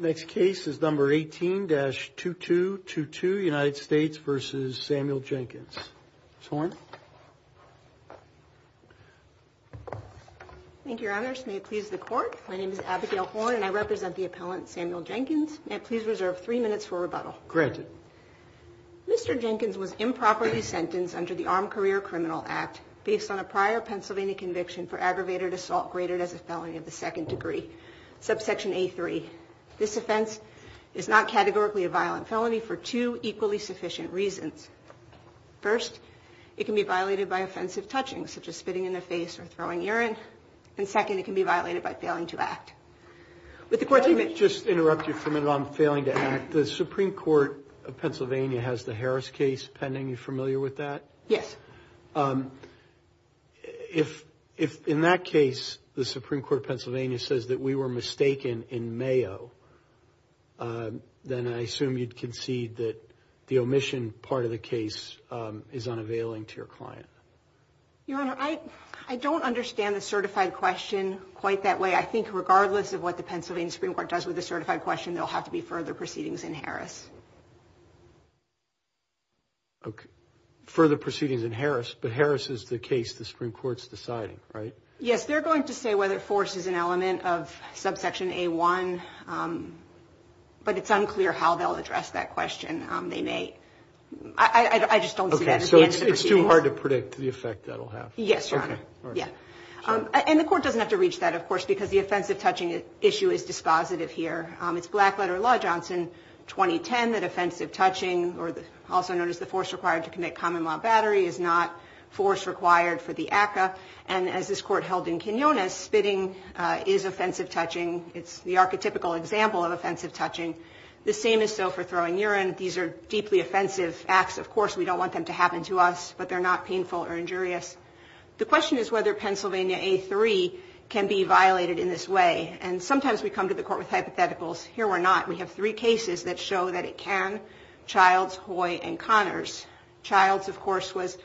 Next case is number 18-2222 United States v. Samuel Jenkins. Ms. Horn. Thank you, Your Honors. May it please the Court. My name is Abigail Horn, and I represent the appellant Samuel Jenkins. May it please reserve three minutes for rebuttal. Granted. Mr. Jenkins was improperly sentenced under the Armed Career Criminal Act based on a prior Pennsylvania conviction for aggravated assault graded as a felony of the second degree, subsection A3. This offense is not categorically a violent felony for two equally sufficient reasons. First, it can be violated by offensive touching, such as spitting in the face or throwing urine. And second, it can be violated by failing to act. Let me just interrupt you for a minute on failing to act. The Supreme Court of Pennsylvania has the Harris case pending. Are you familiar with that? Yes. If in that case the Supreme Court of Pennsylvania says that we were mistaken in Mayo, then I assume you'd concede that the omission part of the case is unavailing to your client. Your Honor, I don't understand the certified question quite that way. I think regardless of what the Pennsylvania Supreme Court does with the certified question, there'll have to be further proceedings in Harris. Okay. Further proceedings in Harris, but Harris is the case the Supreme Court's deciding, right? Yes. They're going to say whether force is an element of subsection A1, but it's unclear how they'll address that question. Okay. So it's too hard to predict the effect that'll have. Yes, Your Honor. And the court doesn't have to reach that, of course, because the offensive touching issue is dispositive here. It's black letter law, Johnson, 2010, that offensive touching, also known as the force required to commit common law battery, is not force required for the ACCA. And as this court held in Quinones, spitting is offensive touching. It's the archetypical example of offensive touching. The same is so for throwing urine. These are deeply offensive acts. Of course, we don't want them to happen to us, but they're not painful or injurious. The question is whether Pennsylvania A3 can be violated in this way, and sometimes we come to the court with hypotheticals. Here we're not. We have three cases that show that it can, Childs, Hoy, and Connors. Childs, of course, was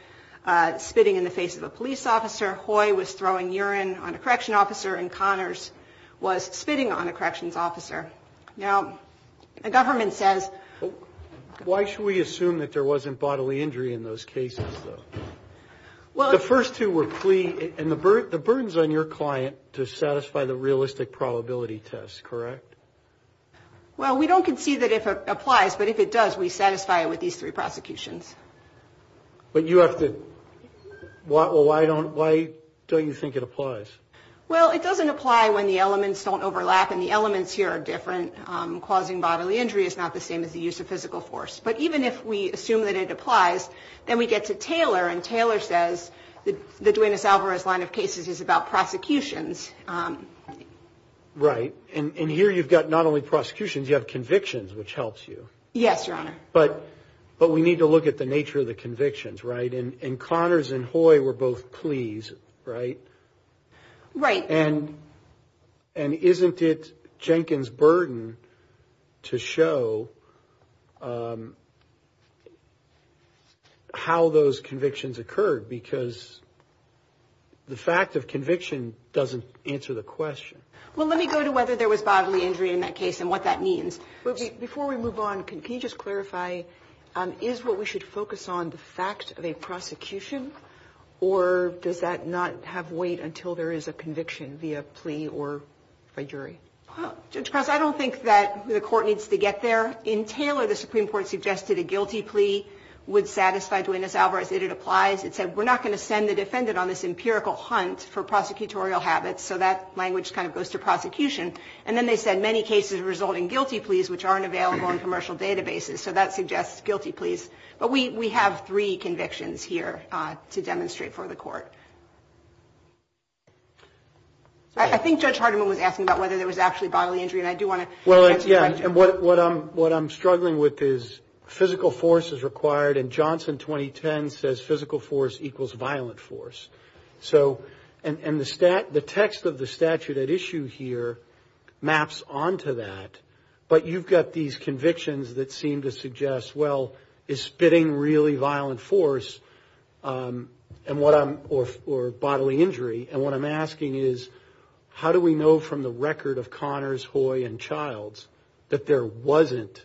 spitting in the face of a police officer. Hoy was throwing urine on a correction officer, and Connors was spitting on a corrections officer. Now, the government says... Why should we assume that there wasn't bodily injury in those cases, though? Well... The first two were plea, and the burden's on your client to satisfy the realistic probability test, correct? Well, we don't concede that it applies, but if it does, we satisfy it with these three prosecutions. But you have to... Well, why don't you think it applies? Well, it doesn't apply when the elements don't overlap, and the elements here are different. Causing bodily injury is not the same as the use of physical force. But even if we assume that it applies, then we get to Taylor, and Taylor says the Duenas-Alvarez line of cases is about prosecutions. Right. And here you've got not only prosecutions, you have convictions, which helps you. Yes, Your Honor. But we need to look at the nature of the convictions, right? And Connors and Hoy were both pleas, right? Right. And isn't it Jenkins' burden to show how those convictions occurred? Because the fact of conviction doesn't answer the question. Well, let me go to whether there was bodily injury in that case and what that means. Before we move on, can you just clarify, is what we should focus on the fact of a prosecution, or does that not have weight until there is a conviction via plea or by jury? Judge Cross, I don't think that the court needs to get there. In Taylor, the Supreme Court suggested a guilty plea would satisfy Duenas-Alvarez. It applies. It said we're not going to send the defendant on this empirical hunt for prosecutorial habits. So that language kind of goes to prosecution. And then they said many cases result in guilty pleas, which aren't available in commercial databases. So that suggests guilty pleas. But we have three convictions here to demonstrate for the court. I think Judge Hardiman was asking about whether there was actually bodily injury, and I do want to answer that. Well, yeah, and what I'm struggling with is physical force is required, and Johnson 2010 says physical force equals violent force. And the text of the statute at issue here maps onto that, but you've got these convictions that seem to suggest, well, is spitting really violent force or bodily injury? And what I'm asking is how do we know from the record of Connors, Hoy, and Childs that there wasn't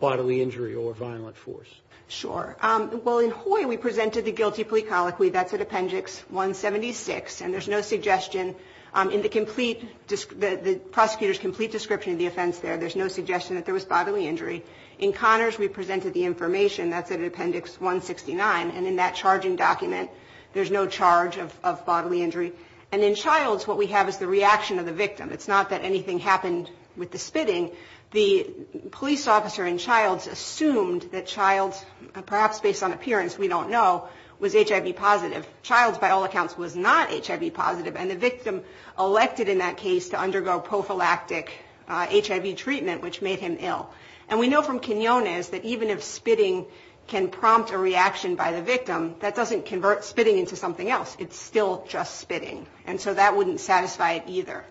bodily injury or violent force? Sure. Well, in Hoy, we presented the guilty plea colloquy. That's at appendix 176, and there's no suggestion. In the prosecutor's complete description of the offense there, there's no suggestion that there was bodily injury. In Connors, we presented the information. That's at appendix 169, and in that charging document, there's no charge of bodily injury. And in Childs, what we have is the reaction of the victim. It's not that anything happened with the spitting. The police officer in Childs assumed that Childs, perhaps based on appearance we don't know, was HIV positive. Childs, by all accounts, was not HIV positive, and the victim elected in that case to undergo prophylactic HIV treatment, which made him ill. And we know from Quinones that even if spitting can prompt a reaction by the victim, that doesn't convert spitting into something else. It's still just spitting, and so that wouldn't satisfy it either.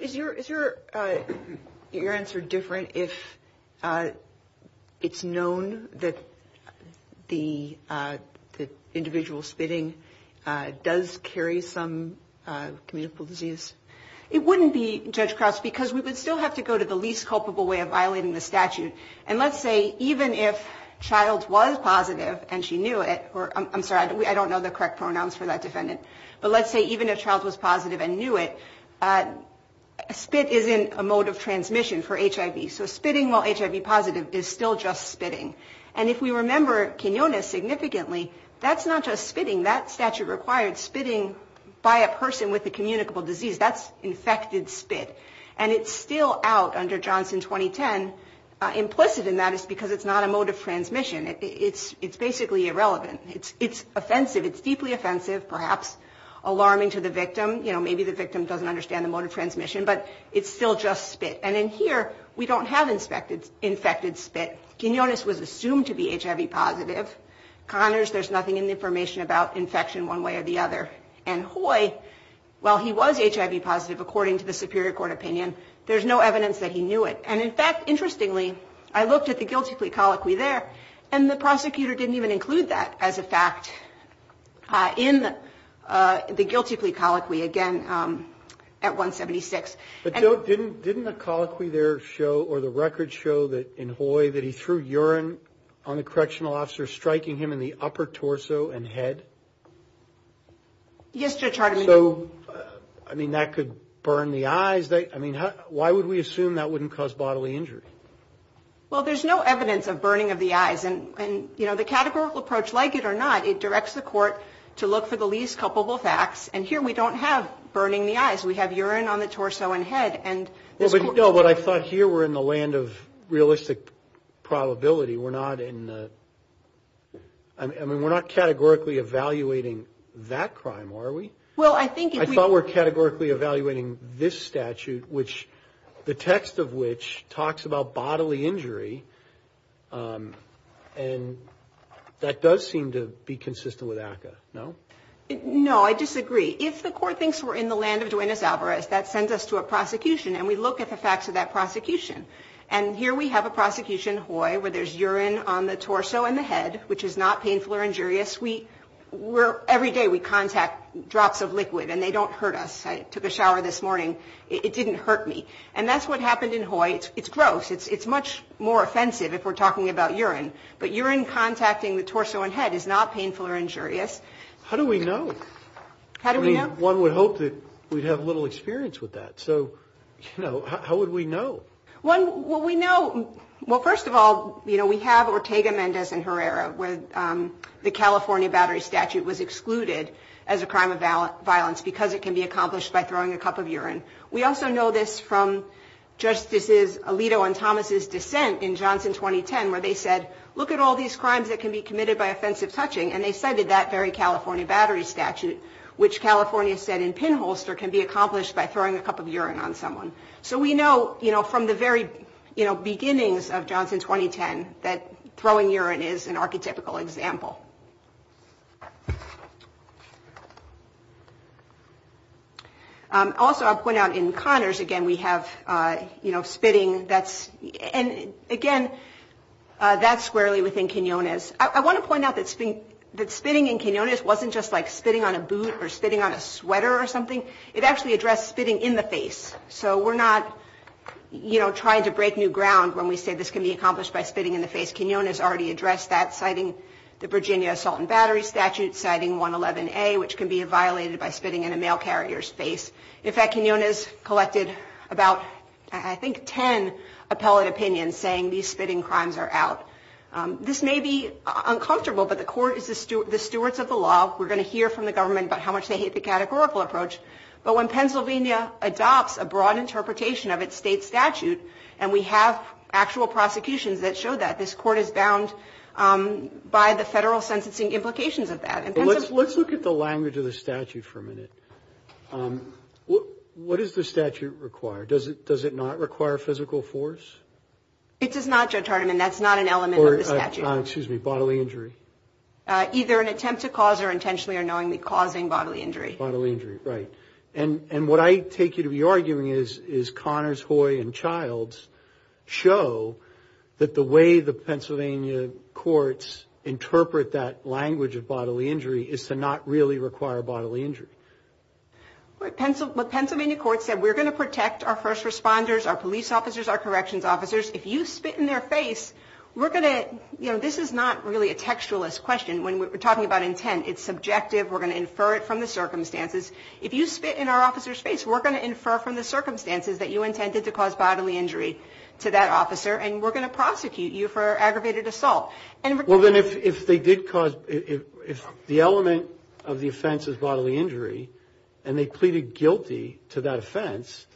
Is your answer different if it's known that the individual spitting does carry some communicable disease? It wouldn't be, Judge Crouse, because we would still have to go to the least culpable way of violating the statute, and let's say even if Childs was positive and she knew it, or I'm sorry, I don't know the correct pronouns for that defendant, but let's say even if Childs was positive and knew it, spit isn't a mode of transmission for HIV. So spitting while HIV positive is still just spitting. And if we remember Quinones significantly, that's not just spitting. That statute required spitting by a person with a communicable disease. That's infected spit, and it's still out under Johnson 2010. Implicit in that is because it's not a mode of transmission. It's basically irrelevant. It's offensive. It's deeply offensive, perhaps alarming to the victim. You know, maybe the victim doesn't understand the mode of transmission, but it's still just spit. And in here, we don't have infected spit. Quinones was assumed to be HIV positive. Connors, there's nothing in the information about infection one way or the other. And Hoy, while he was HIV positive, according to the Superior Court opinion, there's no evidence that he knew it. And, in fact, interestingly, I looked at the guilty plea colloquy there, and the prosecutor didn't even include that as a fact in the guilty plea colloquy, again, at 176. Didn't the colloquy there show or the records show in Hoy that he threw urine on the correctional officer, striking him in the upper torso and head? Yes, Judge Hardiman. So, I mean, that could burn the eyes. I mean, why would we assume that wouldn't cause bodily injury? Well, there's no evidence of burning of the eyes. And, you know, the categorical approach, like it or not, it directs the court to look for the least culpable facts. And here we don't have burning the eyes. We have urine on the torso and head. No, but I thought here we're in the land of realistic probability. We're not in the – I mean, we're not categorically evaluating that crime, are we? Well, I think if we – I thought we're categorically evaluating this statute, which – the text of which talks about bodily injury, and that does seem to be consistent with ACCA, no? No, I disagree. If the court thinks we're in the land of Duenas Alvarez, that sends us to a prosecution, and we look at the facts of that prosecution. And here we have a prosecution, Hoy, where there's urine on the torso and the head, which is not painful or injurious. Every day we contact drops of liquid, and they don't hurt us. I took a shower this morning. It didn't hurt me. And that's what happened in Hoy. It's gross. It's much more offensive if we're talking about urine. But urine contacting the torso and head is not painful or injurious. How do we know? How do we know? I mean, one would hope that we'd have little experience with that. So, you know, how would we know? Well, first of all, you know, we have Ortega, Mendez, and Herrera, where the California Battery Statute was excluded as a crime of violence because it can be accomplished by throwing a cup of urine. We also know this from Justices Alito and Thomas' dissent in Johnson 2010, where they said, look at all these crimes that can be committed by offensive touching, and they cited that very California Battery Statute, which California said in pinholster can be accomplished by throwing a cup of urine on someone. So we know, you know, from the very, you know, beginnings of Johnson 2010, that throwing urine is an archetypical example. Also, I'll point out in Connors, again, we have, you know, spitting. And, again, that's squarely within quinones. I want to point out that spitting in quinones wasn't just like spitting on a boot or spitting on a sweater or something. It actually addressed spitting in the face. So we're not, you know, trying to break new ground when we say this can be accomplished by spitting in the face. Quinones already addressed that, citing the Virginia Assault and Battery Statute, citing 111A, which can be violated by spitting in a mail carrier's face. In fact, quinones collected about, I think, 10 appellate opinions, saying these spitting crimes are out. This may be uncomfortable, but the court is the stewards of the law. We're going to hear from the government about how much they hate the categorical approach. But when Pennsylvania adopts a broad interpretation of its state statute, and we have actual prosecutions that show that, this court is bound by the federal sentencing implications of that. Let's look at the language of the statute for a minute. What does the statute require? Does it not require physical force? It does not, Judge Hardiman. That's not an element of the statute. Excuse me. Bodily injury? Either an attempt to cause or intentionally or knowingly causing bodily injury. And what I take you to be arguing is Connors, Hoy, and Childs show that the way the Pennsylvania courts interpret that language of bodily injury is to not really require bodily injury. What Pennsylvania courts said, we're going to protect our first responders, our police officers, our corrections officers. If you spit in their face, we're going to, you know, this is not really a textualist question when we're talking about intent. It's subjective. We're going to infer it from the circumstances. If you spit in our officer's face, we're going to infer from the circumstances that you intended to cause bodily injury to that officer, and we're going to prosecute you for aggravated assault. Well, then if they did cause, if the element of the offense is bodily injury, and they pleaded guilty to that offense,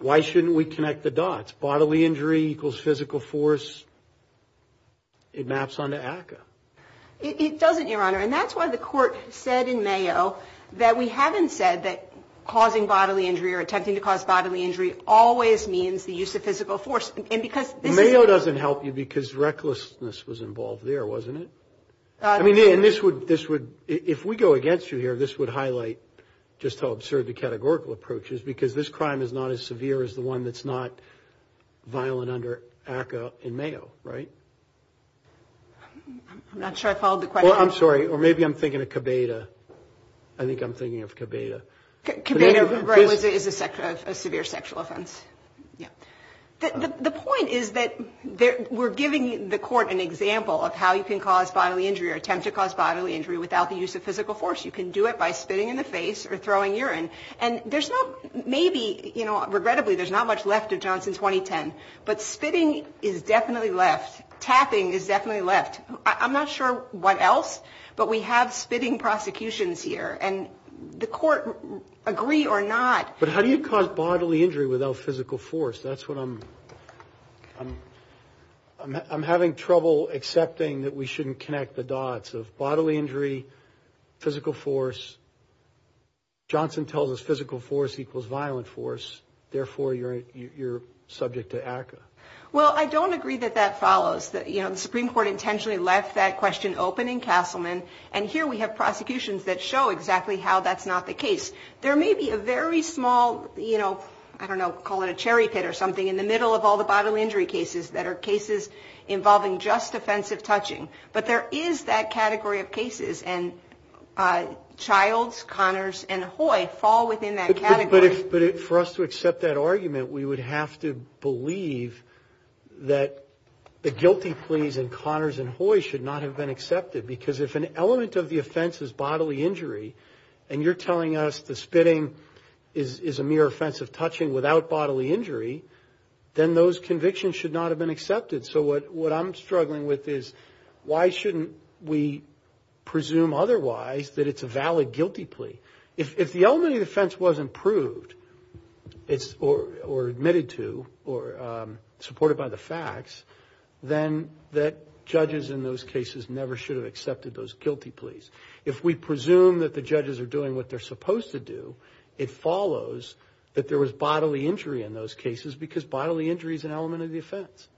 why shouldn't we connect the dots? Bodily injury equals physical force. It maps onto ACCA. It doesn't, Your Honor. And that's why the court said in Mayo that we haven't said that causing bodily injury or attempting to cause bodily injury always means the use of physical force. And because this is. Mayo doesn't help you because recklessness was involved there, wasn't it? I mean, and this would, if we go against you here, this would highlight just how absurd the categorical approach is because this crime is not as severe as the one that's not violent under ACCA in Mayo, right? I'm not sure I followed the question. Well, I'm sorry. Or maybe I'm thinking of Cabeda. I think I'm thinking of Cabeda. Cabeda is a severe sexual offense. The point is that we're giving the court an example of how you can cause bodily injury or attempt to cause bodily injury without the use of physical force. You can do it by spitting in the face or throwing urine. And there's not, maybe, you know, regrettably, there's not much left of Johnson 2010. But spitting is definitely left. Tapping is definitely left. I'm not sure what else, but we have spitting prosecutions here. And the court agree or not. But how do you cause bodily injury without physical force? That's what I'm having trouble accepting that we shouldn't connect the dots of bodily injury, physical force. Johnson tells us physical force equals violent force. Therefore, you're subject to ACCA. Well, I don't agree that that follows. You know, the Supreme Court intentionally left that question open in Castleman. And here we have prosecutions that show exactly how that's not the case. There may be a very small, you know, I don't know, call it a cherry pit or something, in the middle of all the bodily injury cases that are cases involving just offensive touching. But there is that category of cases. And Childs, Connors, and Hoy fall within that category. But for us to accept that argument, we would have to believe that the guilty pleas in Connors and Hoy should not have been accepted. Because if an element of the offense is bodily injury, and you're telling us the spitting is a mere offensive touching without bodily injury, then those convictions should not have been accepted. So what I'm struggling with is why shouldn't we presume otherwise that it's a valid guilty plea? If the element of the offense wasn't proved or admitted to or supported by the facts, then that judges in those cases never should have accepted those guilty pleas. If we presume that the judges are doing what they're supposed to do, it follows that there was bodily injury in those cases because bodily injury is an element of the offense.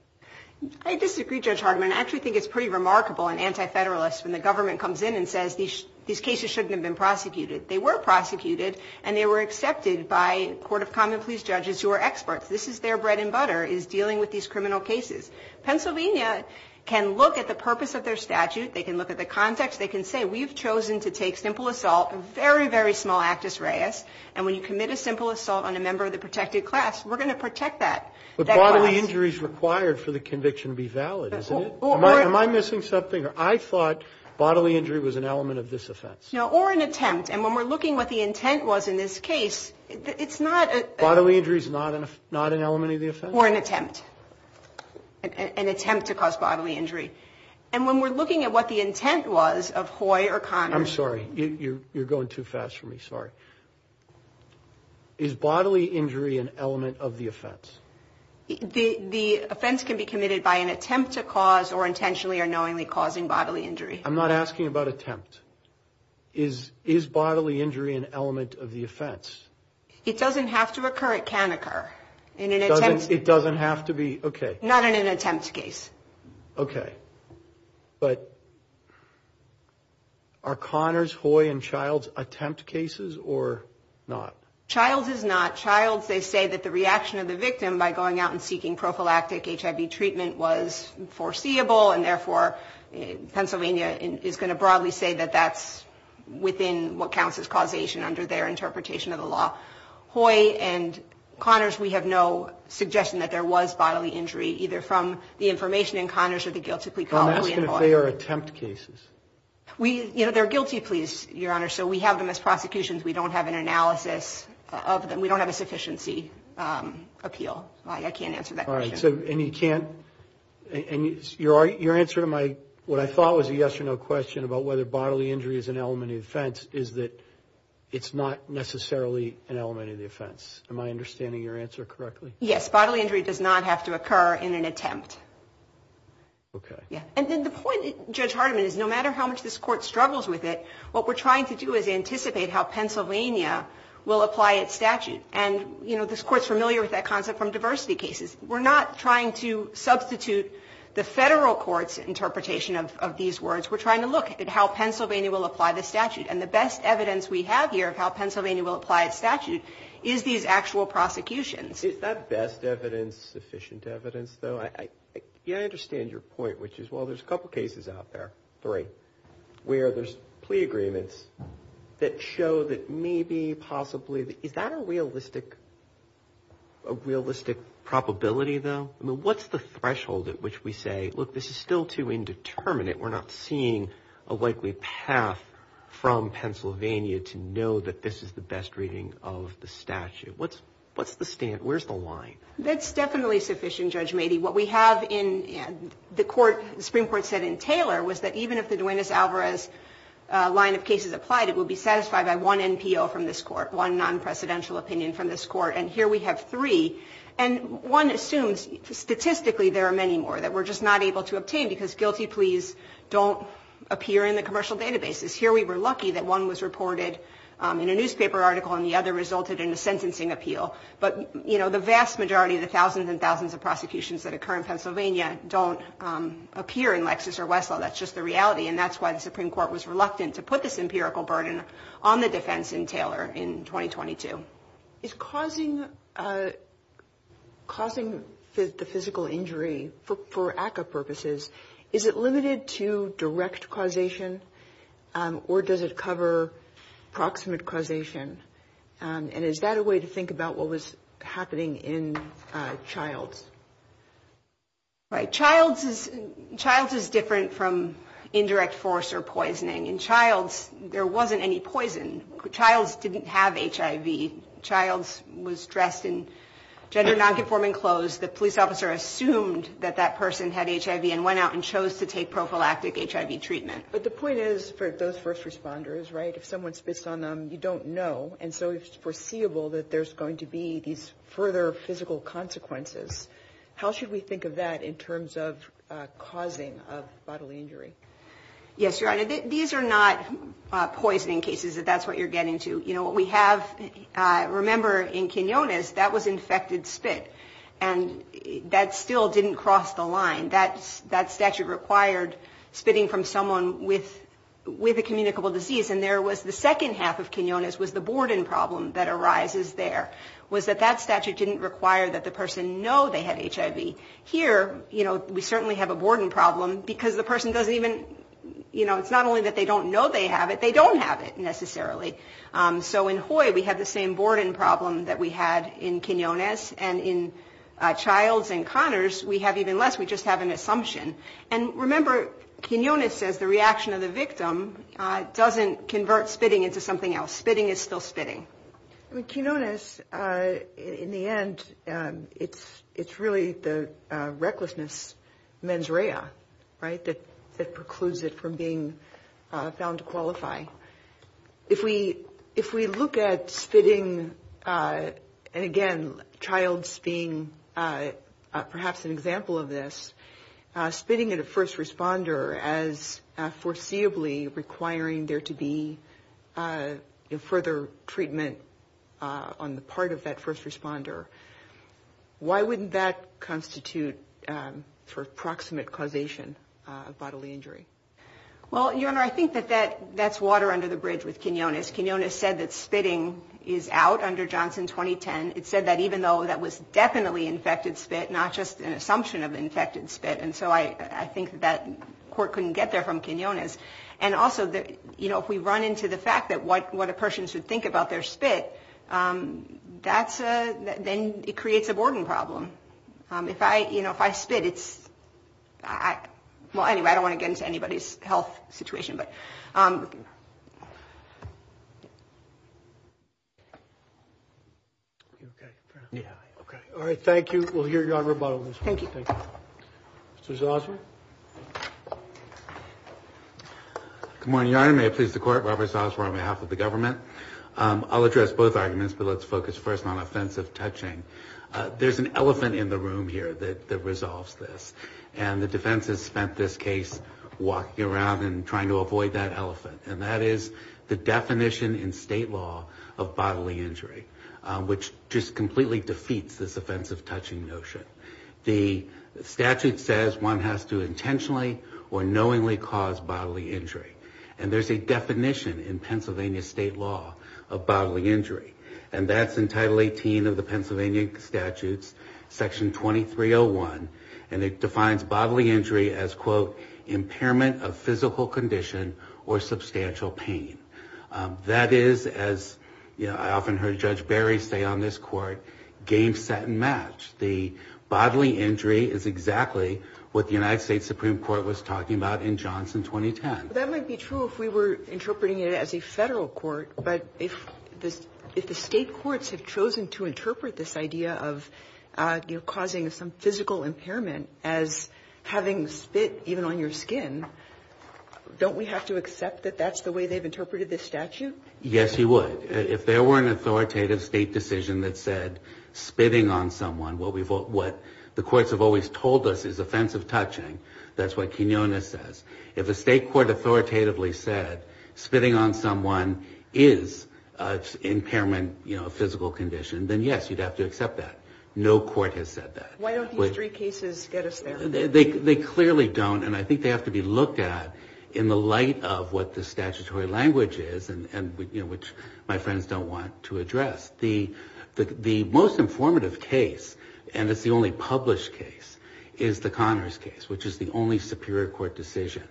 I disagree, Judge Hartman. I actually think it's pretty remarkable and anti-federalist when the government comes in and says these cases shouldn't have been prosecuted. They were prosecuted, and they were accepted by court of common pleas judges who are experts. This is their bread and butter is dealing with these criminal cases. Pennsylvania can look at the purpose of their statute. They can look at the context. They can say we've chosen to take simple assault, a very, very small actus reus. And when you commit a simple assault on a member of the protected class, we're going to protect that. But bodily injury is required for the conviction to be valid, isn't it? Am I missing something? I thought bodily injury was an element of this offense. Or an attempt. And when we're looking at what the intent was in this case, it's not a... Bodily injury is not an element of the offense? Or an attempt. An attempt to cause bodily injury. And when we're looking at what the intent was of Hoy or Conner... I'm sorry. You're going too fast for me. Sorry. Is bodily injury an element of the offense? The offense can be committed by an attempt to cause or intentionally or knowingly causing bodily injury. I'm not asking about attempt. Is bodily injury an element of the offense? It doesn't have to occur. It can occur. In an attempt... It doesn't have to be... Okay. Not in an attempt case. Okay. But are Conner's, Hoy, and Child's attempt cases or not? Child's is not. Child's, they say that the reaction of the victim by going out and seeking prophylactic HIV treatment was foreseeable. And, therefore, Pennsylvania is going to broadly say that that's within what counts as causation under their interpretation of the law. Hoy and Conner's, we have no suggestion that there was bodily injury, either from the information in Conner's or the guilty plea... I'm asking if they are attempt cases. You know, they're guilty pleas, Your Honor. So we have them as prosecutions. We don't have an analysis of them. We don't have a sufficiency appeal. I can't answer that question. So, and you can't... And your answer to my, what I thought was a yes or no question about whether bodily injury is an element of the offense is that it's not necessarily an element of the offense. Am I understanding your answer correctly? Yes. Bodily injury does not have to occur in an attempt. Okay. Yeah. And then the point, Judge Hardiman, is no matter how much this Court struggles with it, what we're trying to do is anticipate how Pennsylvania will apply its statute. And, you know, this Court's familiar with that concept from diversity cases. We're not trying to substitute the Federal Court's interpretation of these words. We're trying to look at how Pennsylvania will apply the statute. And the best evidence we have here of how Pennsylvania will apply its statute is these actual prosecutions. Is that best evidence sufficient evidence, though? Yeah, I understand your point, which is, well, there's a couple cases out there, three, where there's plea agreements that show that maybe possibly... Is that a realistic probability, though? I mean, what's the threshold at which we say, look, this is still too indeterminate. We're not seeing a likely path from Pennsylvania to know that this is the best reading of the statute. What's the stand? Where's the line? That's definitely sufficient, Judge Mady. What we have in the Court, the Supreme Court said in Taylor, was that even if the Duenas-Alvarez line of cases applied, it would be satisfied by one NPO from this Court, one non-presidential opinion from this Court. And here we have three. And one assumes statistically there are many more that we're just not able to obtain because guilty pleas don't appear in the commercial databases. Here we were lucky that one was reported in a newspaper article and the other resulted in a sentencing appeal. But, you know, the vast majority of the thousands and thousands of prosecutions that occur in Pennsylvania don't appear in Lexis or Westlaw. That's just the reality. And that's why the Supreme Court was reluctant to put this empirical burden on the defense in Taylor in 2022. Is causing the physical injury, for ACCA purposes, is it limited to direct causation or does it cover proximate causation? And is that a way to think about what was happening in Childs? Right. Childs is different from indirect force or poisoning. In Childs, there wasn't any poison. Childs didn't have HIV. Childs was dressed in gender nonconforming clothes. The police officer assumed that that person had HIV and went out and chose to take prophylactic HIV treatment. But the point is, for those first responders, right, if someone spits on them, you don't know. And so it's foreseeable that there's going to be these further physical consequences. How should we think of that in terms of causing of bodily injury? Yes, Your Honor. These are not poisoning cases. That's what you're getting to. You know, what we have, remember, in Quinones, that was infected spit. And that still didn't cross the line. That statute required spitting from someone with a communicable disease. And there was the second half of Quinones was the Borden problem that arises there, was that that statute didn't require that the person know they had HIV. Here, you know, we certainly have a Borden problem because the person doesn't even, you know, it's not only that they don't know they have it, they don't have it necessarily. So in Hoy, we have the same Borden problem that we had in Quinones. And in Childs and Connors, we have even less. We just have an assumption. And remember, Quinones says the reaction of the victim doesn't convert spitting into something else. Spitting is still spitting. I mean, Quinones, in the end, it's really the recklessness mens rea, right, that precludes it from being found to qualify. If we look at spitting, and again, Childs being perhaps an example of this, spitting at a first responder as foreseeably requiring there to be further treatment on the part of that first responder, why wouldn't that constitute sort of proximate causation of bodily injury? Well, Your Honor, I think that that's water under the bridge with Quinones. Quinones said that spitting is out under Johnson 2010. It said that even though that was definitely infected spit, not just an assumption of infected spit. And so I think that court couldn't get there from Quinones. And also, you know, if we run into the fact that what a person should think about their spit, that's a – then it creates a Borden problem. If I, you know, if I spit, it's – well, anyway, I don't want to get into anybody's health situation. All right. Thank you. We'll hear your rebuttal. Thank you. Mr. Zosmar. Good morning, Your Honor. May it please the Court, Robert Zosmar on behalf of the government. I'll address both arguments, but let's focus first on offensive touching. There's an elephant in the room here that resolves this. And the defense has spent this case walking around and trying to avoid that elephant. And that is the definition in state law of bodily injury, which just completely defeats this offensive touching notion. The statute says one has to intentionally or knowingly cause bodily injury. And there's a definition in Pennsylvania state law of bodily injury. And that's in Title 18 of the Pennsylvania statutes, Section 2301. And it defines bodily injury as, quote, impairment of physical condition or substantial pain. That is, as I often heard Judge Barry say on this Court, game, set, and match. The bodily injury is exactly what the United States Supreme Court was talking about in Johnson 2010. That might be true if we were interpreting it as a Federal court. But if the state courts have chosen to interpret this idea of causing some physical impairment as having spit even on your skin, don't we have to accept that that's the way they've interpreted this statute? Yes, you would. If there were an authoritative state decision that said spitting on someone, what the courts have always told us is offensive touching. That's what Quinonez says. If a state court authoritatively said spitting on someone is an impairment, you know, a physical condition, then yes, you'd have to accept that. No court has said that. Why don't these three cases get us there? They clearly don't, and I think they have to be looked at in the light of what the statutory language is, which my friends don't want to address. The most informative case, and it's the only published case, is the Connors case, which is the only Superior Court decision.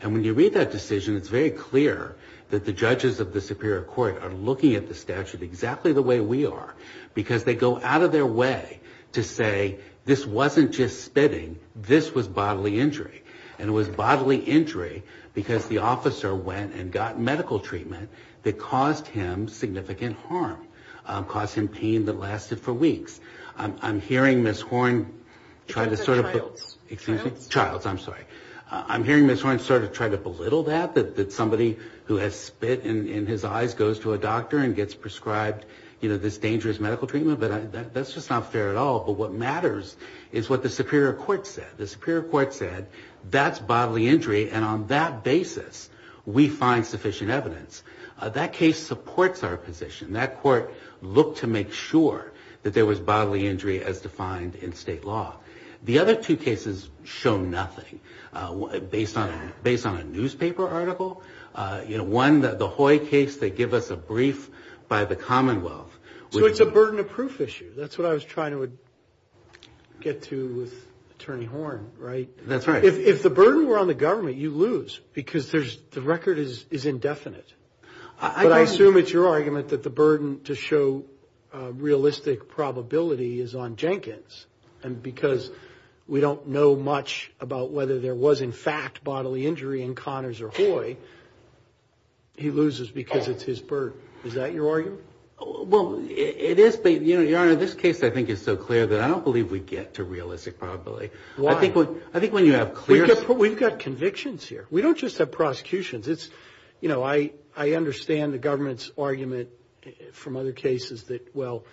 And when you read that decision, it's very clear that the judges of the Superior Court are looking at the statute exactly the way we are, because they go out of their way to say this wasn't just spitting, this was bodily injury. And it was bodily injury because the officer went and got medical treatment that caused him significant harm, caused him pain that lasted for weeks. I'm hearing Ms. Horn sort of try to belittle that, that somebody who has spit in his eyes goes to a doctor and gets prescribed, you know, this dangerous medical treatment, but that's just not fair at all. But what matters is what the Superior Court said. The Superior Court said that's bodily injury, and on that basis we find sufficient evidence. That case supports our position. That court looked to make sure that there was bodily injury as defined in state law. The other two cases show nothing, based on a newspaper article. You know, one, the Hoy case, they give us a brief by the Commonwealth. So it's a burden of proof issue. That's what I was trying to get to with Attorney Horn, right? That's right. If the burden were on the government, you'd lose, because the record is indefinite. But I assume it's your argument that the burden to show realistic probability is on Jenkins. And because we don't know much about whether there was in fact bodily injury in Connors or Hoy, he loses because it's his burden. Is that your argument? Well, it is, but, Your Honor, this case I think is so clear that I don't believe we get to realistic probability. I think when you have clear... We've got convictions here. We don't just have prosecutions. I understand the government's argument from other cases that, well,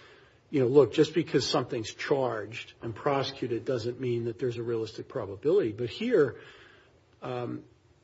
look, just because something's charged and prosecuted doesn't mean that there's a realistic probability. But here,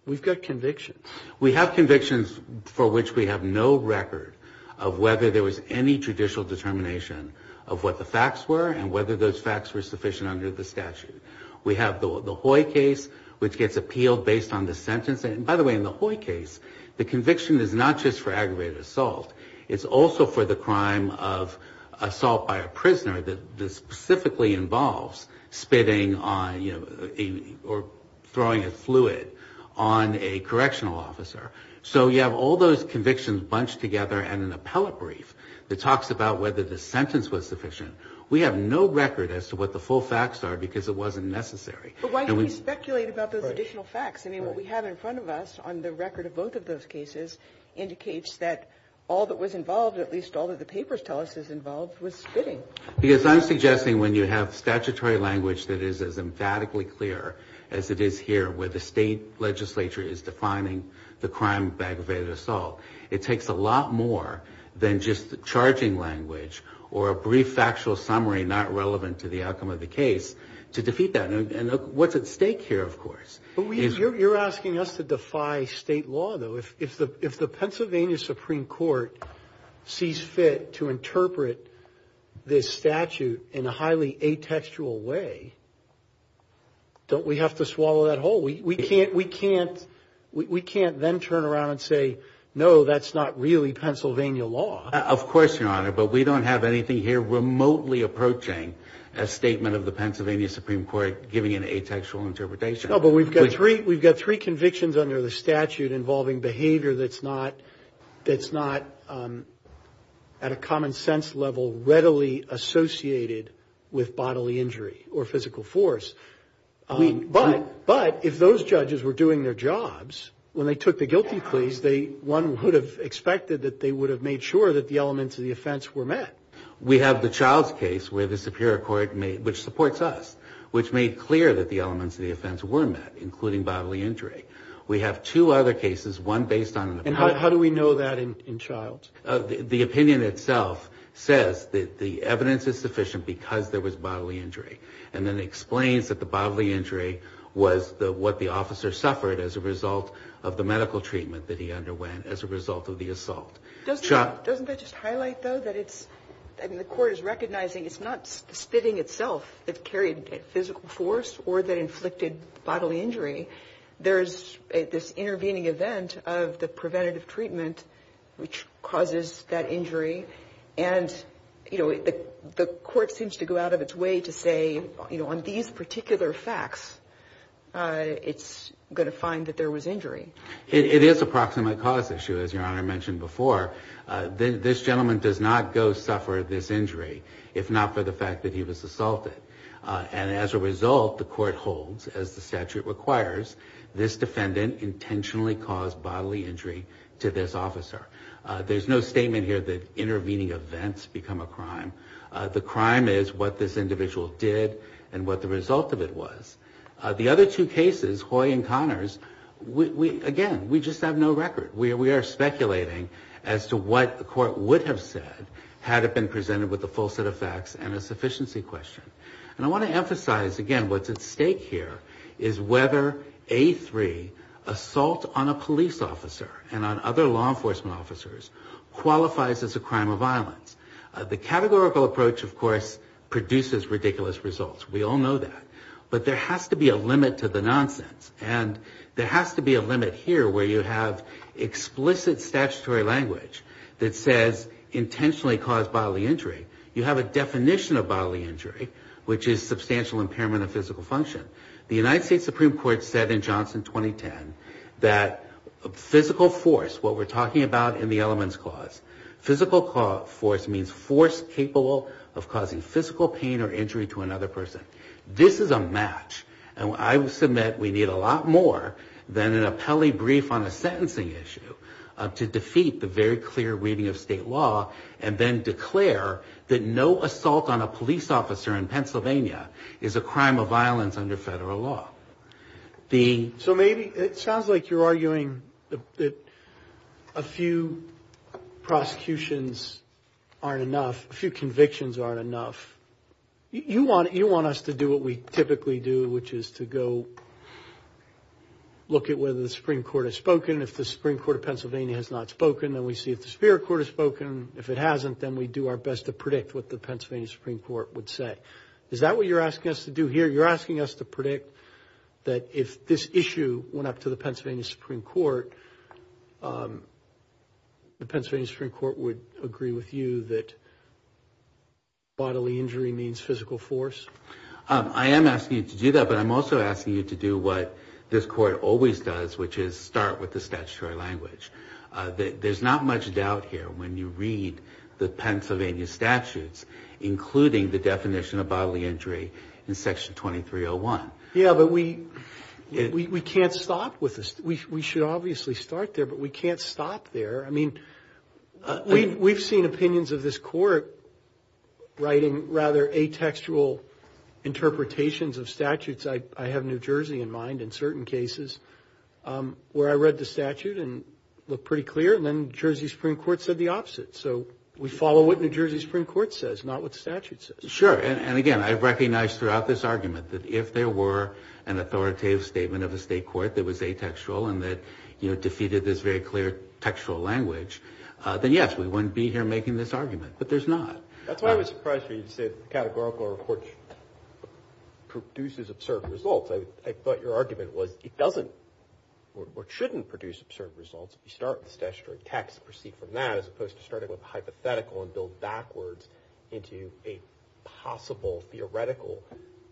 we've got convictions. We have convictions for which we have no record of whether there was any judicial determination of what the facts were and whether those facts were sufficient under the statute. We have the Hoy case, which gets appealed based on the sentence. And, by the way, in the Hoy case, the conviction is not just for aggravated assault. It's also for the crime of assault by a prisoner that specifically involves spitting on, you know, or throwing a fluid on a correctional officer. So you have all those convictions bunched together and an appellate brief that talks about whether the sentence was sufficient. We have no record as to what the full facts are because it wasn't necessary. And we... But why should we speculate about those additional facts? I mean, what we have in front of us on the record of both of those cases indicates that all that was involved, at least all that the papers tell us is involved, was spitting. Because I'm suggesting when you have statutory language that is as emphatically clear as it is here, where the state legislature is defining the crime of aggravated assault, it takes a lot more than just the charging language or a brief factual summary not relevant to the outcome of the case to defeat that. And what's at stake here, of course, is... You're asking us to defy state law, though. If we're going to defy this statute in a highly atextual way, don't we have to swallow that whole? We can't then turn around and say, no, that's not really Pennsylvania law. Of course, Your Honor, but we don't have anything here remotely approaching a statement of the Pennsylvania Supreme Court giving an atextual interpretation. No, but we've got three convictions under the statute involving behavior that's not at a common sense level readily attributable to Pennsylvania law. And we've got three convictions associated with bodily injury or physical force. But if those judges were doing their jobs, when they took the guilty pleas, one would have expected that they would have made sure that the elements of the offense were met. We have the Childs case where the Superior Court, which supports us, which made clear that the elements of the offense were met, including bodily injury. We have two other cases, one based on... And how do we know that in Childs? The opinion itself says that the evidence is sufficient because there was bodily injury. And then it explains that the bodily injury was what the officer suffered as a result of the medical treatment that he underwent as a result of the assault. Doesn't that just highlight, though, that it's... I mean, the Court is recognizing it's not spitting itself that carried physical force or that inflicted bodily injury. There's this intervening event of the preventative treatment which causes that injury. And, you know, the Court seems to go out of its way to say, you know, on these particular facts, it's going to find that there was injury. It is a proximate cause issue, as Your Honor mentioned before. This gentleman does not go suffer this injury if not for the fact that he was assaulted. And as a result, the Court holds, as the statute requires, this defendant intentionally caused bodily injury to this officer. There's no statement here that intervening events become a crime. The crime is what this individual did and what the result of it was. The other two cases, Hoy and Connors, again, we just have no record. We are speculating as to what the Court would have said had it been presented with a full set of facts and a sufficiency question. And I want to emphasize, again, what's at stake here is whether A3, assault on a police officer and on other law enforcement officers, qualifies as a crime of violence. The categorical approach, of course, produces ridiculous results. We all know that. But there has to be a limit to the nonsense. And there has to be a limit here where you have explicit statutory language that says intentionally caused bodily injury. You have a definition of bodily injury, which is substantial impairment of physical function. The United States Supreme Court said in Johnson 2010 that physical force, what we're talking about in the elements clause, physical force means force capable of causing physical pain or injury to another person. This is a match, and I submit we need a lot more than an appellee brief on a sentencing issue to defeat the very clear reading of state law and then declare that no assault on a police officer in Pennsylvania is a crime of violence under federal law. The... So maybe it sounds like you're arguing that a few prosecutions aren't enough, a few convictions aren't enough. You want us to do what we typically do, which is to go look at whether the Supreme Court has spoken. If the Supreme Court of Pennsylvania has not spoken, then we see if the Superior Court has spoken. If it hasn't, then we do our best to predict what the Pennsylvania Supreme Court would say. Is that what you're asking us to do here? You're asking us to predict that if this issue went up to the Pennsylvania Supreme Court, the Pennsylvania Supreme Court would agree with you that bodily injury means physical force? I am asking you to do that, but I'm also asking you to do what this court always does, which is start with the statutory language. There's not much doubt here when you read the Pennsylvania statutes, including the definition of bodily injury in Section 2301. Yeah, but we can't stop with this. We should obviously start there, but we can't stop there. I mean, we've seen opinions of this court writing rather atextual interpretations of statutes. I have New Jersey in mind in certain cases where I read the statute and looked pretty clear, and then the New Jersey Supreme Court said the opposite. So we follow what New Jersey Supreme Court says, not what the statute says. Sure, and again, I recognize throughout this argument that if there were an authoritative statement of a state court that was atextual and that defeated this very clear textual language, then yes, we wouldn't be here making this argument, but there's not. That's why I was surprised when you said the categorical report produces absurd results. I thought your argument was it doesn't or shouldn't produce absurd results if you start with the statutory text and proceed from that as opposed to starting with a hypothetical and build backwards into a possible theoretical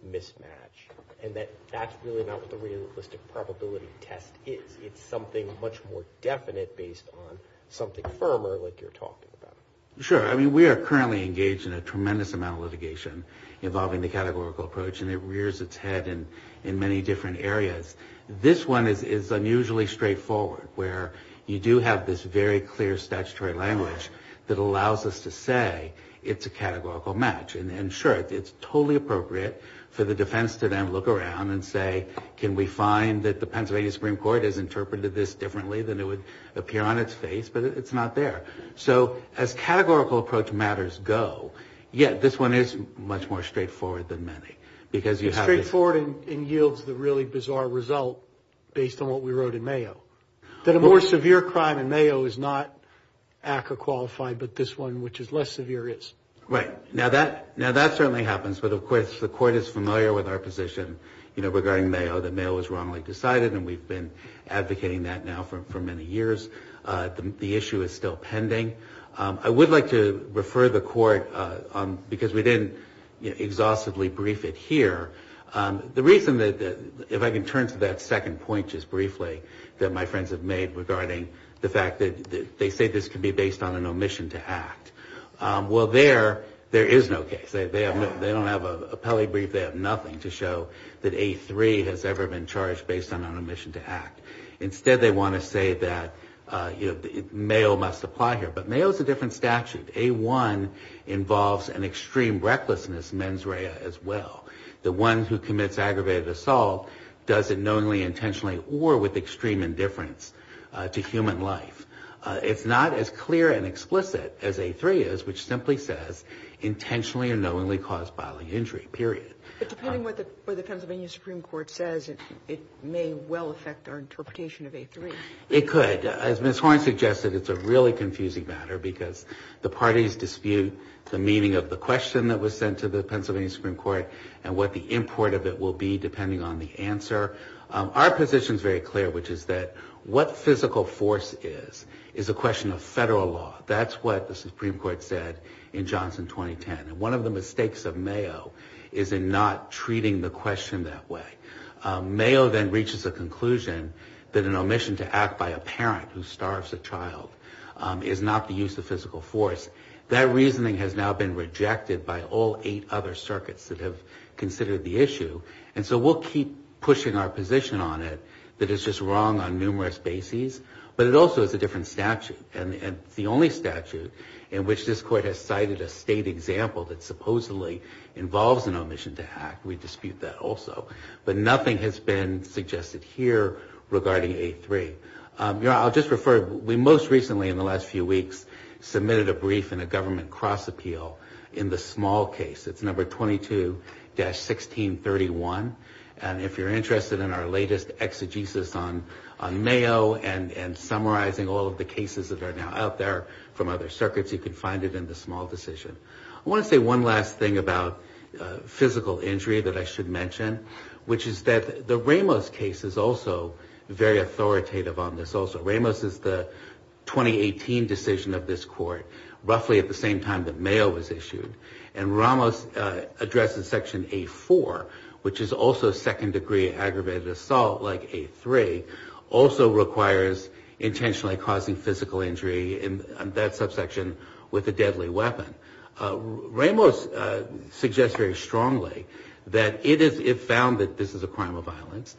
mismatch, and that that's really not what the realistic probability test is. It's something much more definite based on something firmer like you're talking about. Sure. I mean, we are currently engaged in a tremendous amount of litigation involving the categorical approach, and it rears its head in many different areas. This one is unusually straightforward, where you do have this very clear statutory language that allows us to say it's a categorical match. And sure, it's totally appropriate for the defense to then look around and say, can we find that the Pennsylvania Supreme Court has interpreted this differently than it would appear on its face, but it's not there. So as categorical approach matters go, yet this one is much more straightforward than many, because you have this... It's straightforward and yields the really bizarre result based on what we wrote in Mayo. That a more severe crime in Mayo is not ACRA qualified, but this one, which is less severe, is. Right. Now, that certainly happens, but, of course, the Court is familiar with our position regarding Mayo that Mayo was wrongly decided, and we've been advocating that now for many years. The issue is still pending. I would like to refer the Court, because we didn't exhaustively brief it here, the reason that, if I can turn to that second point just briefly that my friends have made regarding the fact that they say this could be based on an omission to act. Well, there, there is no case. They don't have an appellee brief, they have nothing to show that A3 has ever been charged based on an omission to act. Instead, they want to say that, you know, Mayo must apply here, but Mayo is a different statute. A1 involves an extreme recklessness mens rea as well. The one who commits aggravated assault does it knowingly, intentionally, or with extreme indifference to human life. It's not as clear and explicit as A3 is, which simply says intentionally or knowingly caused bodily injury, period. But depending on what the Pennsylvania Supreme Court says, it may well affect our interpretation of A3. It could. As Ms. Horne suggested, it's a really confusing matter because the parties dispute the meaning of the question that was sent to the Pennsylvania Supreme Court and what the import of it will be depending on the answer. Our position is very clear, which is that what physical force is, is a question of federal law. That's what the Supreme Court said in Johnson 2010. It's not treating the question that way. Mayo then reaches a conclusion that an omission to act by a parent who starves a child is not the use of physical force. That reasoning has now been rejected by all eight other circuits that have considered the issue. And so we'll keep pushing our position on it that it's just wrong on numerous bases, but it also is a different statute. And it's the only statute in which this court has cited a state example that supposedly involves an omission to act. We dispute that also, but nothing has been suggested here regarding A3. I'll just refer, we most recently in the last few weeks submitted a brief in a government cross appeal in the small case. It's number 22-1631. And if you're interested in our latest exegesis on Mayo and summarizing all of the cases that are now out there from other circuits, you can find it in the small decision. I want to say one last thing about physical injury that I should mention, which is that the Ramos case is also very authoritative on this also. Ramos is the 2018 decision of this court, roughly at the same time that Mayo was issued. And Ramos addresses section A4, which is also second degree aggravated assault like A3, also requires intentionally causing physical injury in that subsection with a deadly weapon. Ramos suggests very strongly that it found that this is a crime of violence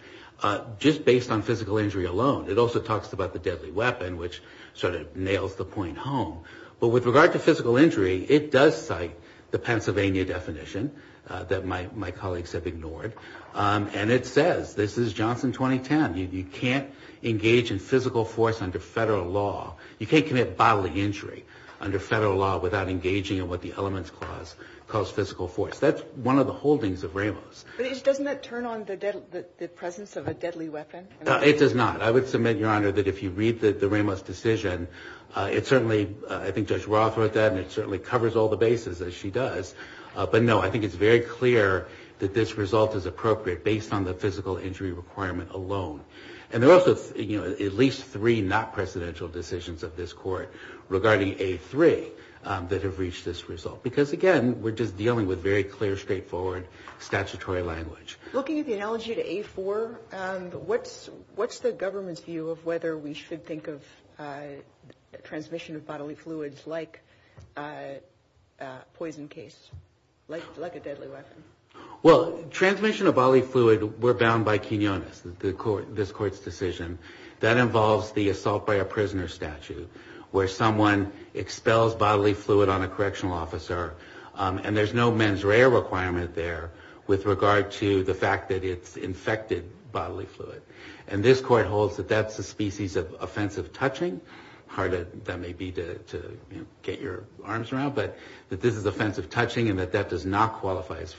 just based on physical injury alone. It also talks about the deadly weapon, which sort of nails the point home. But with regard to physical injury, it does cite the Pennsylvania definition that my colleagues have ignored. And it says, this is Johnson 2010, you can't engage in physical force under federal law. You can't commit bodily injury under federal law without engaging in what the elements clause calls physical force. That's one of the holdings of Ramos. But doesn't that turn on the presence of a deadly weapon? It does not. I would submit, Your Honor, that if you read the Ramos decision, it certainly, I think Judge Roth wrote that, and it certainly covers all the bases, as she does. But no, I think it's very clear that this result is appropriate based on the physical injury requirement alone. And there are also at least three not precedential decisions of this court regarding A3 that have reached this result. Because again, we're just dealing with very clear, straightforward statutory language. Looking at the analogy to A4, what's the government's view of whether we should think of transmission of bodily fluids like a poison case? Like a deadly weapon? Well, transmission of bodily fluid, we're bound by quinones, this court's decision. That involves the assault by a prisoner statute, where someone expels bodily fluid on a correctional officer. And there's no mens rea requirement there with regard to the fact that it's infected bodily fluid. And this court holds that that's a species of offensive touching. Hard as that may be to get your arms around, but that this is offensive touching and that that does not qualify as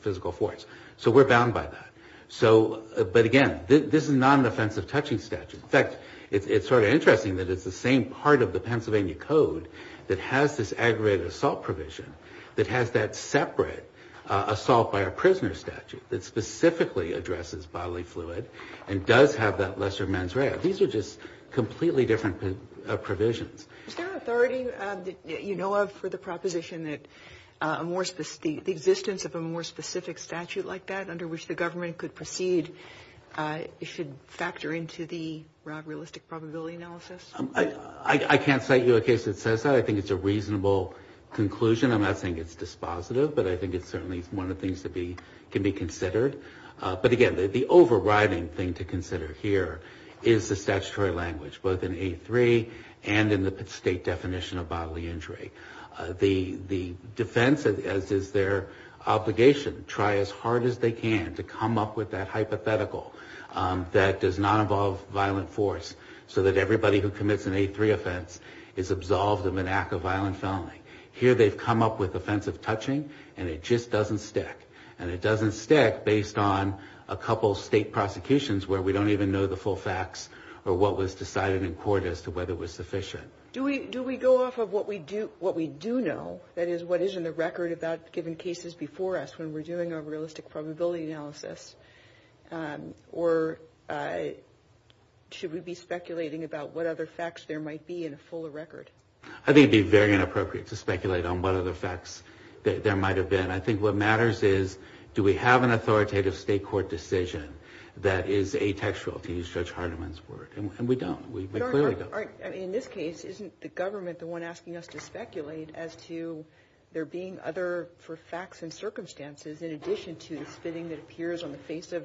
physical force. So we're bound by that. But again, this is not an offensive touching statute. In fact, it's sort of interesting that it's the same part of the Pennsylvania Code that has this aggravated assault provision that has that separate assault by a prisoner statute that specifically addresses bodily fluid and does have that lesser mens rea. These are just completely different provisions. Is there authority that you know of for the proposition that the existence of a more specific statute like that, under which the government could proceed, should factor into the realistic probability analysis? I can't cite you a case that says that. I think it's a reasonable conclusion. I'm not saying it's dispositive, but I think it's certainly one of the things that can be considered. But again, the overriding thing to consider here is the statutory language, both in A3 and in the state definition of bodily injury. The defense, as is their obligation, try as hard as they can to come up with that hypothetical that does not involve violent force so that everybody who commits an A3 offense is absolved of an act of violent felony. Here they've come up with offensive touching, and it just doesn't stick. And it doesn't stick based on a couple state prosecutions where we don't even know the full facts or what was decided in court as to whether it was sufficient. Do we go off of what we do know, that is, what is in the record about given cases before us when we're doing our realistic probability analysis? Or should we be speculating about what other facts there might be in a fuller record? I think it would be very inappropriate to speculate on what other facts there might have been. I think what matters is do we have an authoritative state court decision that is atextual, to use Judge Hardiman's word, and we don't. We clearly don't. In this case, isn't the government the one asking us to speculate as to there being other facts and circumstances in addition to the spitting that appears on the face of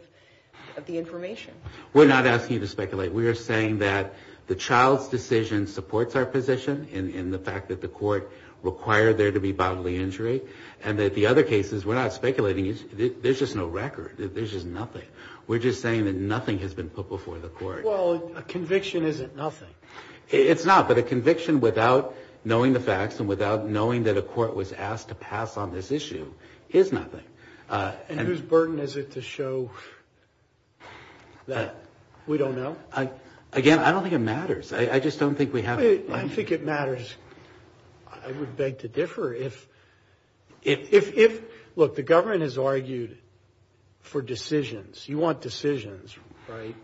the information? We're not asking you to speculate. We are saying that the child's decision supports our position in the fact that the court required there to be bodily injury, and that the other cases, we're not speculating. There's just no record. There's just nothing. We're just saying that nothing has been put before the court. Well, a conviction isn't nothing. It's not, but a conviction without knowing the facts and without knowing that a court was asked to pass on this issue is nothing. And whose burden is it to show that we don't know? Again, I don't think it matters. I just don't think we have... I think it matters. I would beg to differ. Look, the government has argued for decisions. You want decisions, right?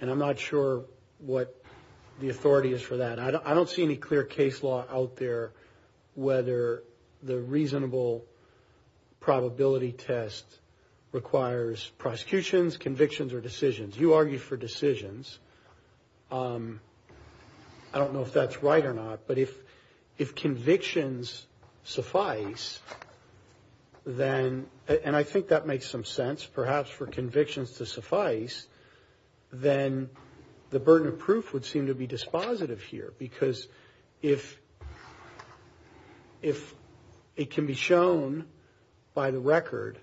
And I'm not sure what the authority is for that. I don't see any clear case law out there whether the reasonable probability test requires prosecutions, convictions, or decisions. You argue for decisions. I don't know if that's right or not, but if convictions suffice, then... And I think that makes some sense, perhaps for convictions to suffice, then the burden of proof would seem to be dispositive here. Because if it can be shown by the record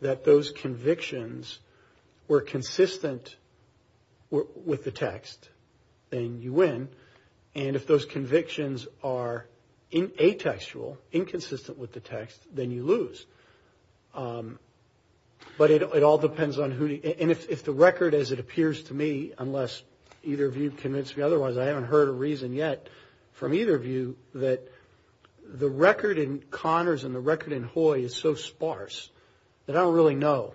that those convictions were consistent with the text, then you win. And if those convictions are atextual, inconsistent with the text, then you lose. But it all depends on who... And if the record as it appears to me, unless either of you have convinced me otherwise, I haven't heard a reason yet from either of you that the record in Connors and the record in Hoye is so sparse that I don't really know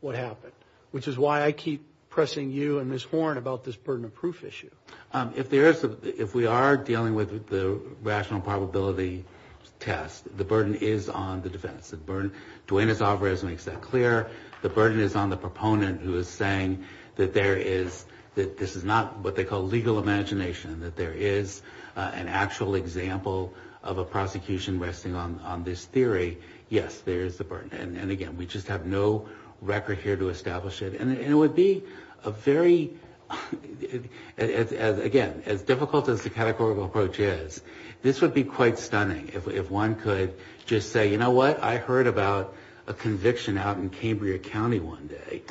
what happened, which is why I keep pressing you and Ms. Horn about this burden of proof issue. If we are dealing with the rational probability test, the burden is on the defense. Duenas-Alvarez makes that clear. The burden is on the proponent who is saying that this is not what they call legal imagination, that there is an actual example of a prosecution resting on this theory. Yes, there is a burden. And again, we just have no record here to establish it. And it would be a very... I would just say, you know what, I heard about a conviction out in Cambria County one day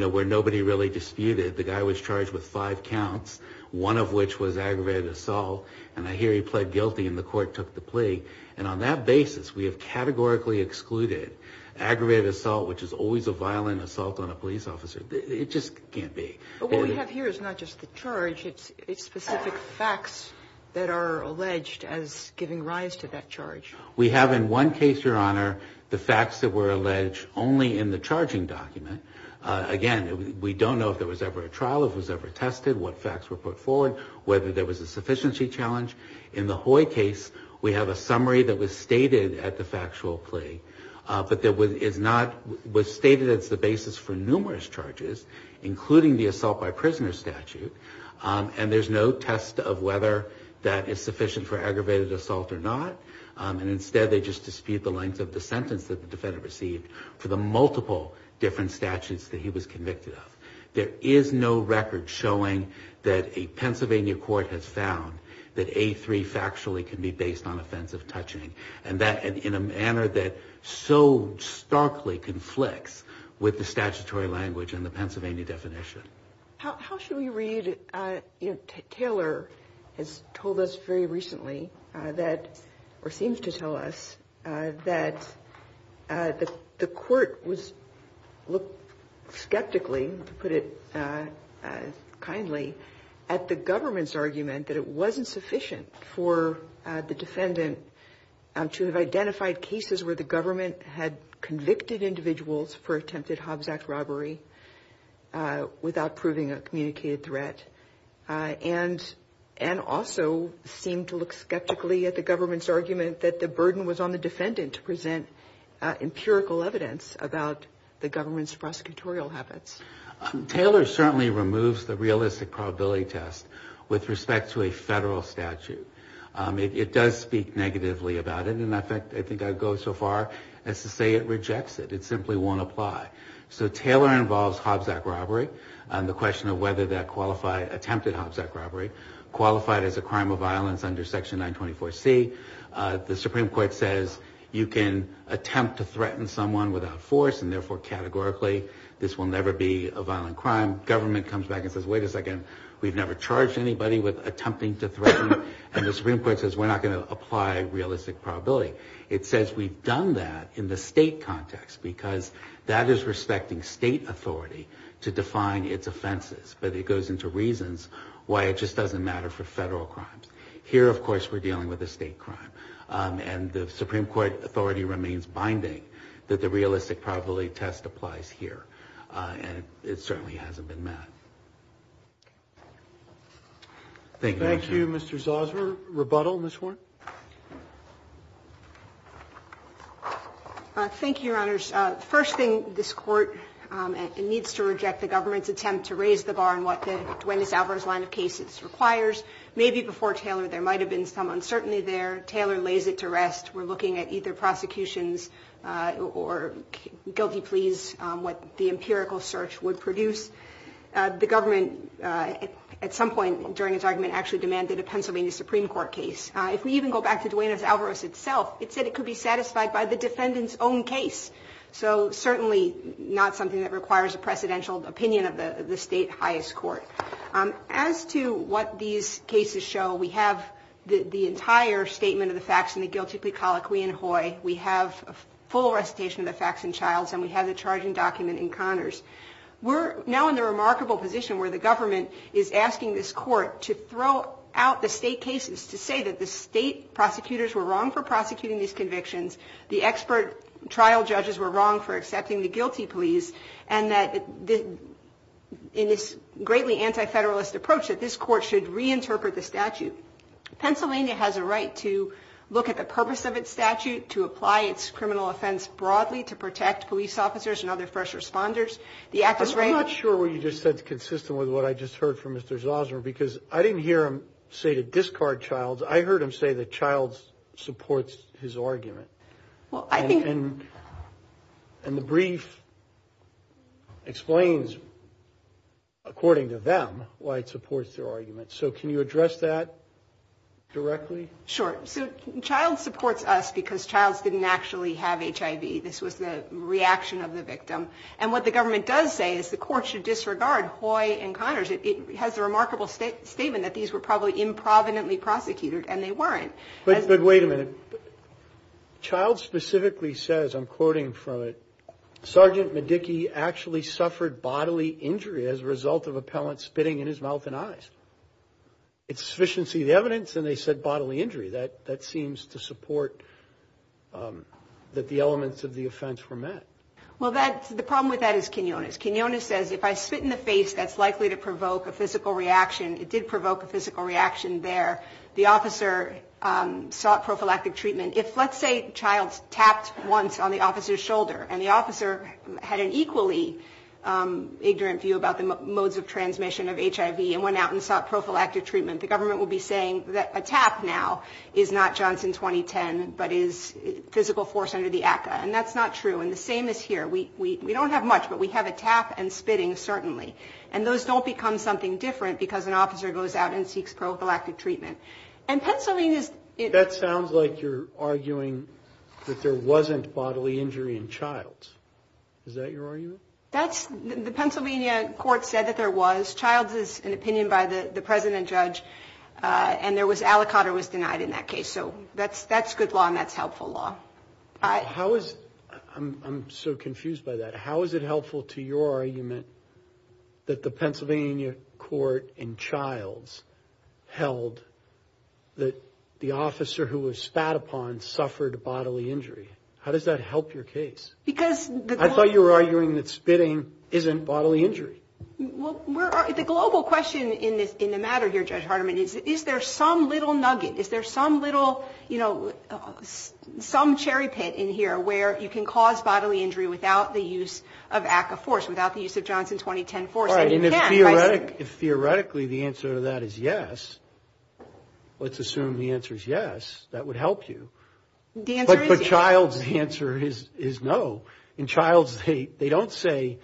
where nobody really disputed. The guy was charged with five counts, one of which was aggravated assault, and I hear he pled guilty and the court took the plea. And on that basis, we have categorically excluded aggravated assault, which is always a violent assault on a police officer. It just can't be. But what we have here is not just the charge, it's specific facts that are alleged as giving rise to that charge. We have in one case, Your Honor, the facts that were alleged only in the charging document. Again, we don't know if there was ever a trial, if it was ever tested, what facts were put forward, whether there was a sufficiency challenge. In the Hoy case, we have a summary that was stated at the factual plea. But it was stated as the basis for numerous charges, including the assault by prisoner statute. And there's no test of whether that is sufficient for aggravated assault or not. And instead, they just dispute the length of the sentence that the defendant received for the multiple different statutes that he was convicted of. There is no record showing that a Pennsylvania court has found that A3 factually can be based on offensive touching. And that in a manner that so starkly conflicts with the statutory language and the Pennsylvania definition. How should we read it? Taylor has told us very recently that or seems to tell us that the court was looked skeptically, to put it kindly, at the government's argument that it wasn't sufficient for the defendant to have identified cases where the government had convicted individuals for attempted Hobbs Act robbery without proving a communicated threat, and also seemed to look skeptically at the government's argument that the burden was on the defendant to present empirical evidence about the government's prosecutorial habits. Taylor certainly removes the realistic probability test with respect to a federal statute. It does speak negatively about it, and I think I'd go so far as to say it rejects it. It simply won't apply. So Taylor involves Hobbs Act robbery, the question of whether that attempted Hobbs Act robbery, qualified as a crime of violence under Section 924C. The Supreme Court says you can attempt to threaten someone without force, and therefore categorically this will never be a crime of violence. Government comes back and says, wait a second, we've never charged anybody with attempting to threaten. And the Supreme Court says we're not going to apply realistic probability. It says we've done that in the state context, because that is respecting state authority to define its offenses. But it goes into reasons why it just doesn't matter for federal crimes. Here, of course, we're dealing with a state crime, and the Supreme Court authority remains binding that the realistic probability test applies here. It certainly hasn't been met. Thank you, Your Honor. Thank you, Mr. Zauser. Rebuttal, Ms. Horne. Thank you, Your Honors. First thing, this Court needs to reject the government's attempt to raise the bar on what the Duenas-Alvarez line of cases requires. Maybe before Taylor there might have been some uncertainty there. Taylor lays it to rest. We're looking at either prosecutions or guilty pleas, what the empirical search would produce. The government at some point during its argument actually demanded a Pennsylvania Supreme Court case. If we even go back to Duenas-Alvarez itself, it said it could be satisfied by the defendant's own case. So certainly not something that requires a presidential opinion of the state highest court. As to what these cases show, we have the entire statement of the facts in the guilty plea colloquy in Hoye. We have a full recitation of the facts in Childs, and we have the charging document in Connors. We're now in the remarkable position where the government is asking this Court to throw out the state cases to say that there's a problem, that the state prosecutors were wrong for prosecuting these convictions, the expert trial judges were wrong for accepting the guilty pleas, and that in this greatly anti-federalist approach that this Court should reinterpret the statute. Pennsylvania has a right to look at the purpose of its statute, to apply its criminal offense broadly, to protect police officers and other first responders. I'm not sure what you just said is consistent with what I just heard from Mr. Zosmer, because I didn't hear him say to discard Childs. I heard him say that Childs supports his argument. And the brief explains, according to them, why it supports their argument. So can you address that directly? Sure. So Childs supports us because Childs didn't actually have HIV. This was the reaction of the victim. And what the government does say is the Court should disregard Hoy and Connors. It has a remarkable statement that these were probably improvidently prosecuted, and they weren't. But wait a minute. Childs specifically says, I'm quoting from it, Sergeant Medicki actually suffered bodily injury as a result of a pellet spitting in his mouth and eyes. It's sufficiency of the evidence, and they said bodily injury. That seems to support that the elements of the offense were met. Well, the problem with that is Quinones. Quinones says if I spit in the face, that's likely to provoke a physical reaction. It did provoke a physical reaction there. The officer sought prophylactic treatment. If, let's say, Childs tapped once on the officer's shoulder and the officer had an equally ignorant view about the modes of transmission of HIV and went out and sought prophylactic treatment, the government would be saying that a tap now is not Johnson 2010, but is physical force under the ACCA. And that's not true. And the same is here. We don't have much, but we have a tap and spitting, certainly. And those don't become something different because an officer goes out and seeks prophylactic treatment. And Pennsylvania's... That sounds like you're arguing that there wasn't bodily injury in Childs. Is that your argument? That's the Pennsylvania court said that there was. Childs is an opinion by the president judge, and there was, aliquotter was denied in that case. So that's good law and that's helpful law. How is, I'm so confused by that, how is it helpful to your argument that the Pennsylvania court in Childs held that the officer who was spat upon suffered bodily injury? How does that help your case? I thought you were arguing that spitting isn't bodily injury. Well, the global question in the matter here, Judge Hardiman, is there some little nugget, is there some little, you know, some cherry pit in here where you can cause bodily injury without the use of ACCA force, without the use of Johnson 2010 force? Right, and if theoretically the answer to that is yes, let's assume the answer is yes, that would help you. But Childs' answer is no. In Childs, they don't say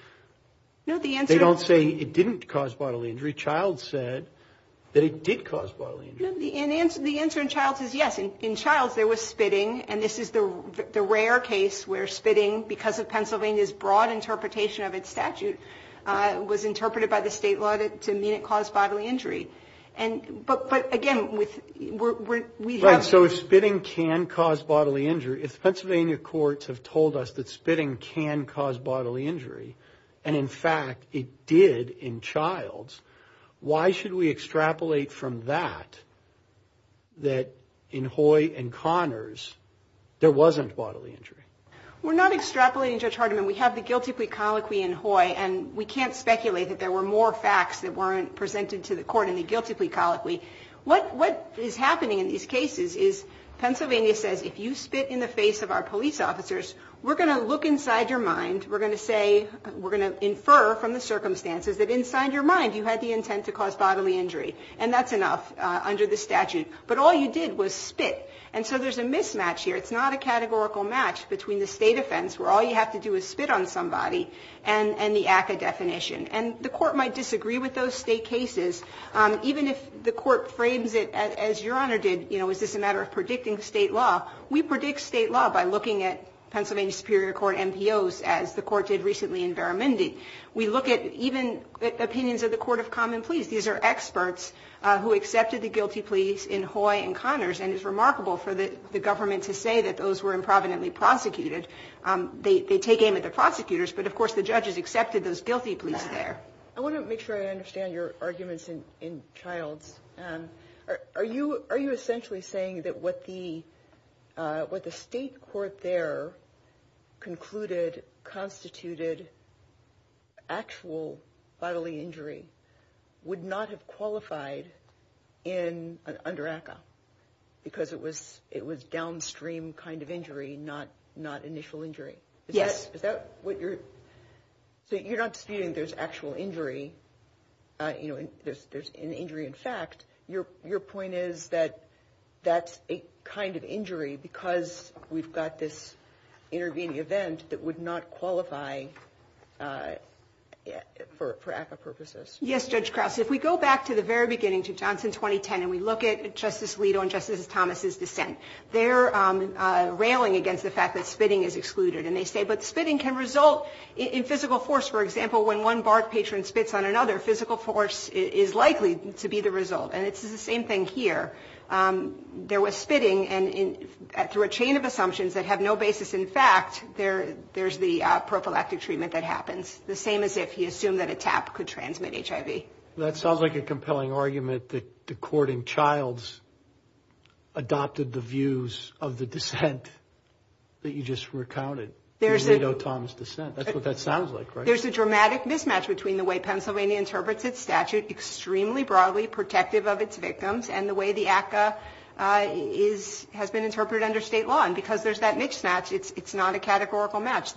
it didn't cause bodily injury. Childs said that it did cause bodily injury. The answer in Childs is yes. In Childs there was spitting, and this is the rare case where spitting, because of Pennsylvania's broad interpretation of its statute, was interpreted by the state law to mean it caused bodily injury. But again, we have... Right, so if spitting can cause bodily injury, if Pennsylvania courts have told us that spitting can cause bodily injury, and in fact it did in Childs, why should we extrapolate from that that in Hoy and Connors there wasn't bodily injury? We're not extrapolating, Judge Hardiman. We have the guilty plea colloquy in Hoy, and we can't speculate that there were more facts that weren't presented to the court in the guilty plea colloquy. What is happening in these cases is Pennsylvania says if you spit in the face of our police officers, we're going to look inside your mind, we're going to say, we're going to infer from the circumstances that inside your mind you had the intent to cause bodily injury, and that's enough under the statute. But all you did was spit. And so there's a mismatch here. It's not a categorical match between the state offense, where all you have to do is spit on somebody, and the ACCA definition. And the court might disagree with those state cases, even if the court frames it as Your Honor did, you know, is this a matter of predicting state law? We predict state law by looking at Pennsylvania Superior Court MPOs, as the court did recently in Veramindi. We look at even opinions of the Court of Common Pleas. These are experts who accepted the guilty pleas in Hoy and Connors, and it's remarkable for the government to say that those were improvidently prosecuted. They take aim at the prosecutors, but of course the judges accepted those guilty pleas there. I want to make sure I understand your arguments in Childs. Are you essentially saying that what the state court there concluded constituted actual bodily injury would not have qualified under ACCA because it was downstream kind of injury, not initial injury? Yes. So you're not disputing there's actual injury, you know, there's an injury in fact. Your point is that that's a kind of injury because we've got this intervening event that would not qualify for ACCA purposes? Yes, Judge Krause. If we go back to the very beginning, to Johnson 2010, and we look at Justice Alito and Justice Thomas' dissent, they're railing against the fact that spitting is excluded. And they say, but spitting can result in physical force. For example, when one bark patron spits on another, physical force is likely to be the result. And it's the same thing here. There was spitting, and through a chain of assumptions that have no basis in fact, there's the prophylactic treatment that happens. The same as if you assume that a tap could transmit HIV. That sounds like a compelling argument that the court in Childs adopted the views of the dissent that you just recounted. There's a dramatic mismatch between the way Pennsylvania interprets its statute, extremely broadly protective of its victims, and the way the ACCA has been interpreted under state law. And because there's that mismatch, it's not a categorical match.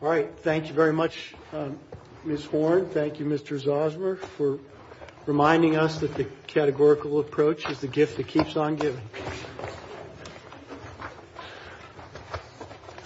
All right, thank you very much, Ms. Horne. Thank you, Mr. Zosmer, for reminding us that the categorical approach is the gift that keeps on giving.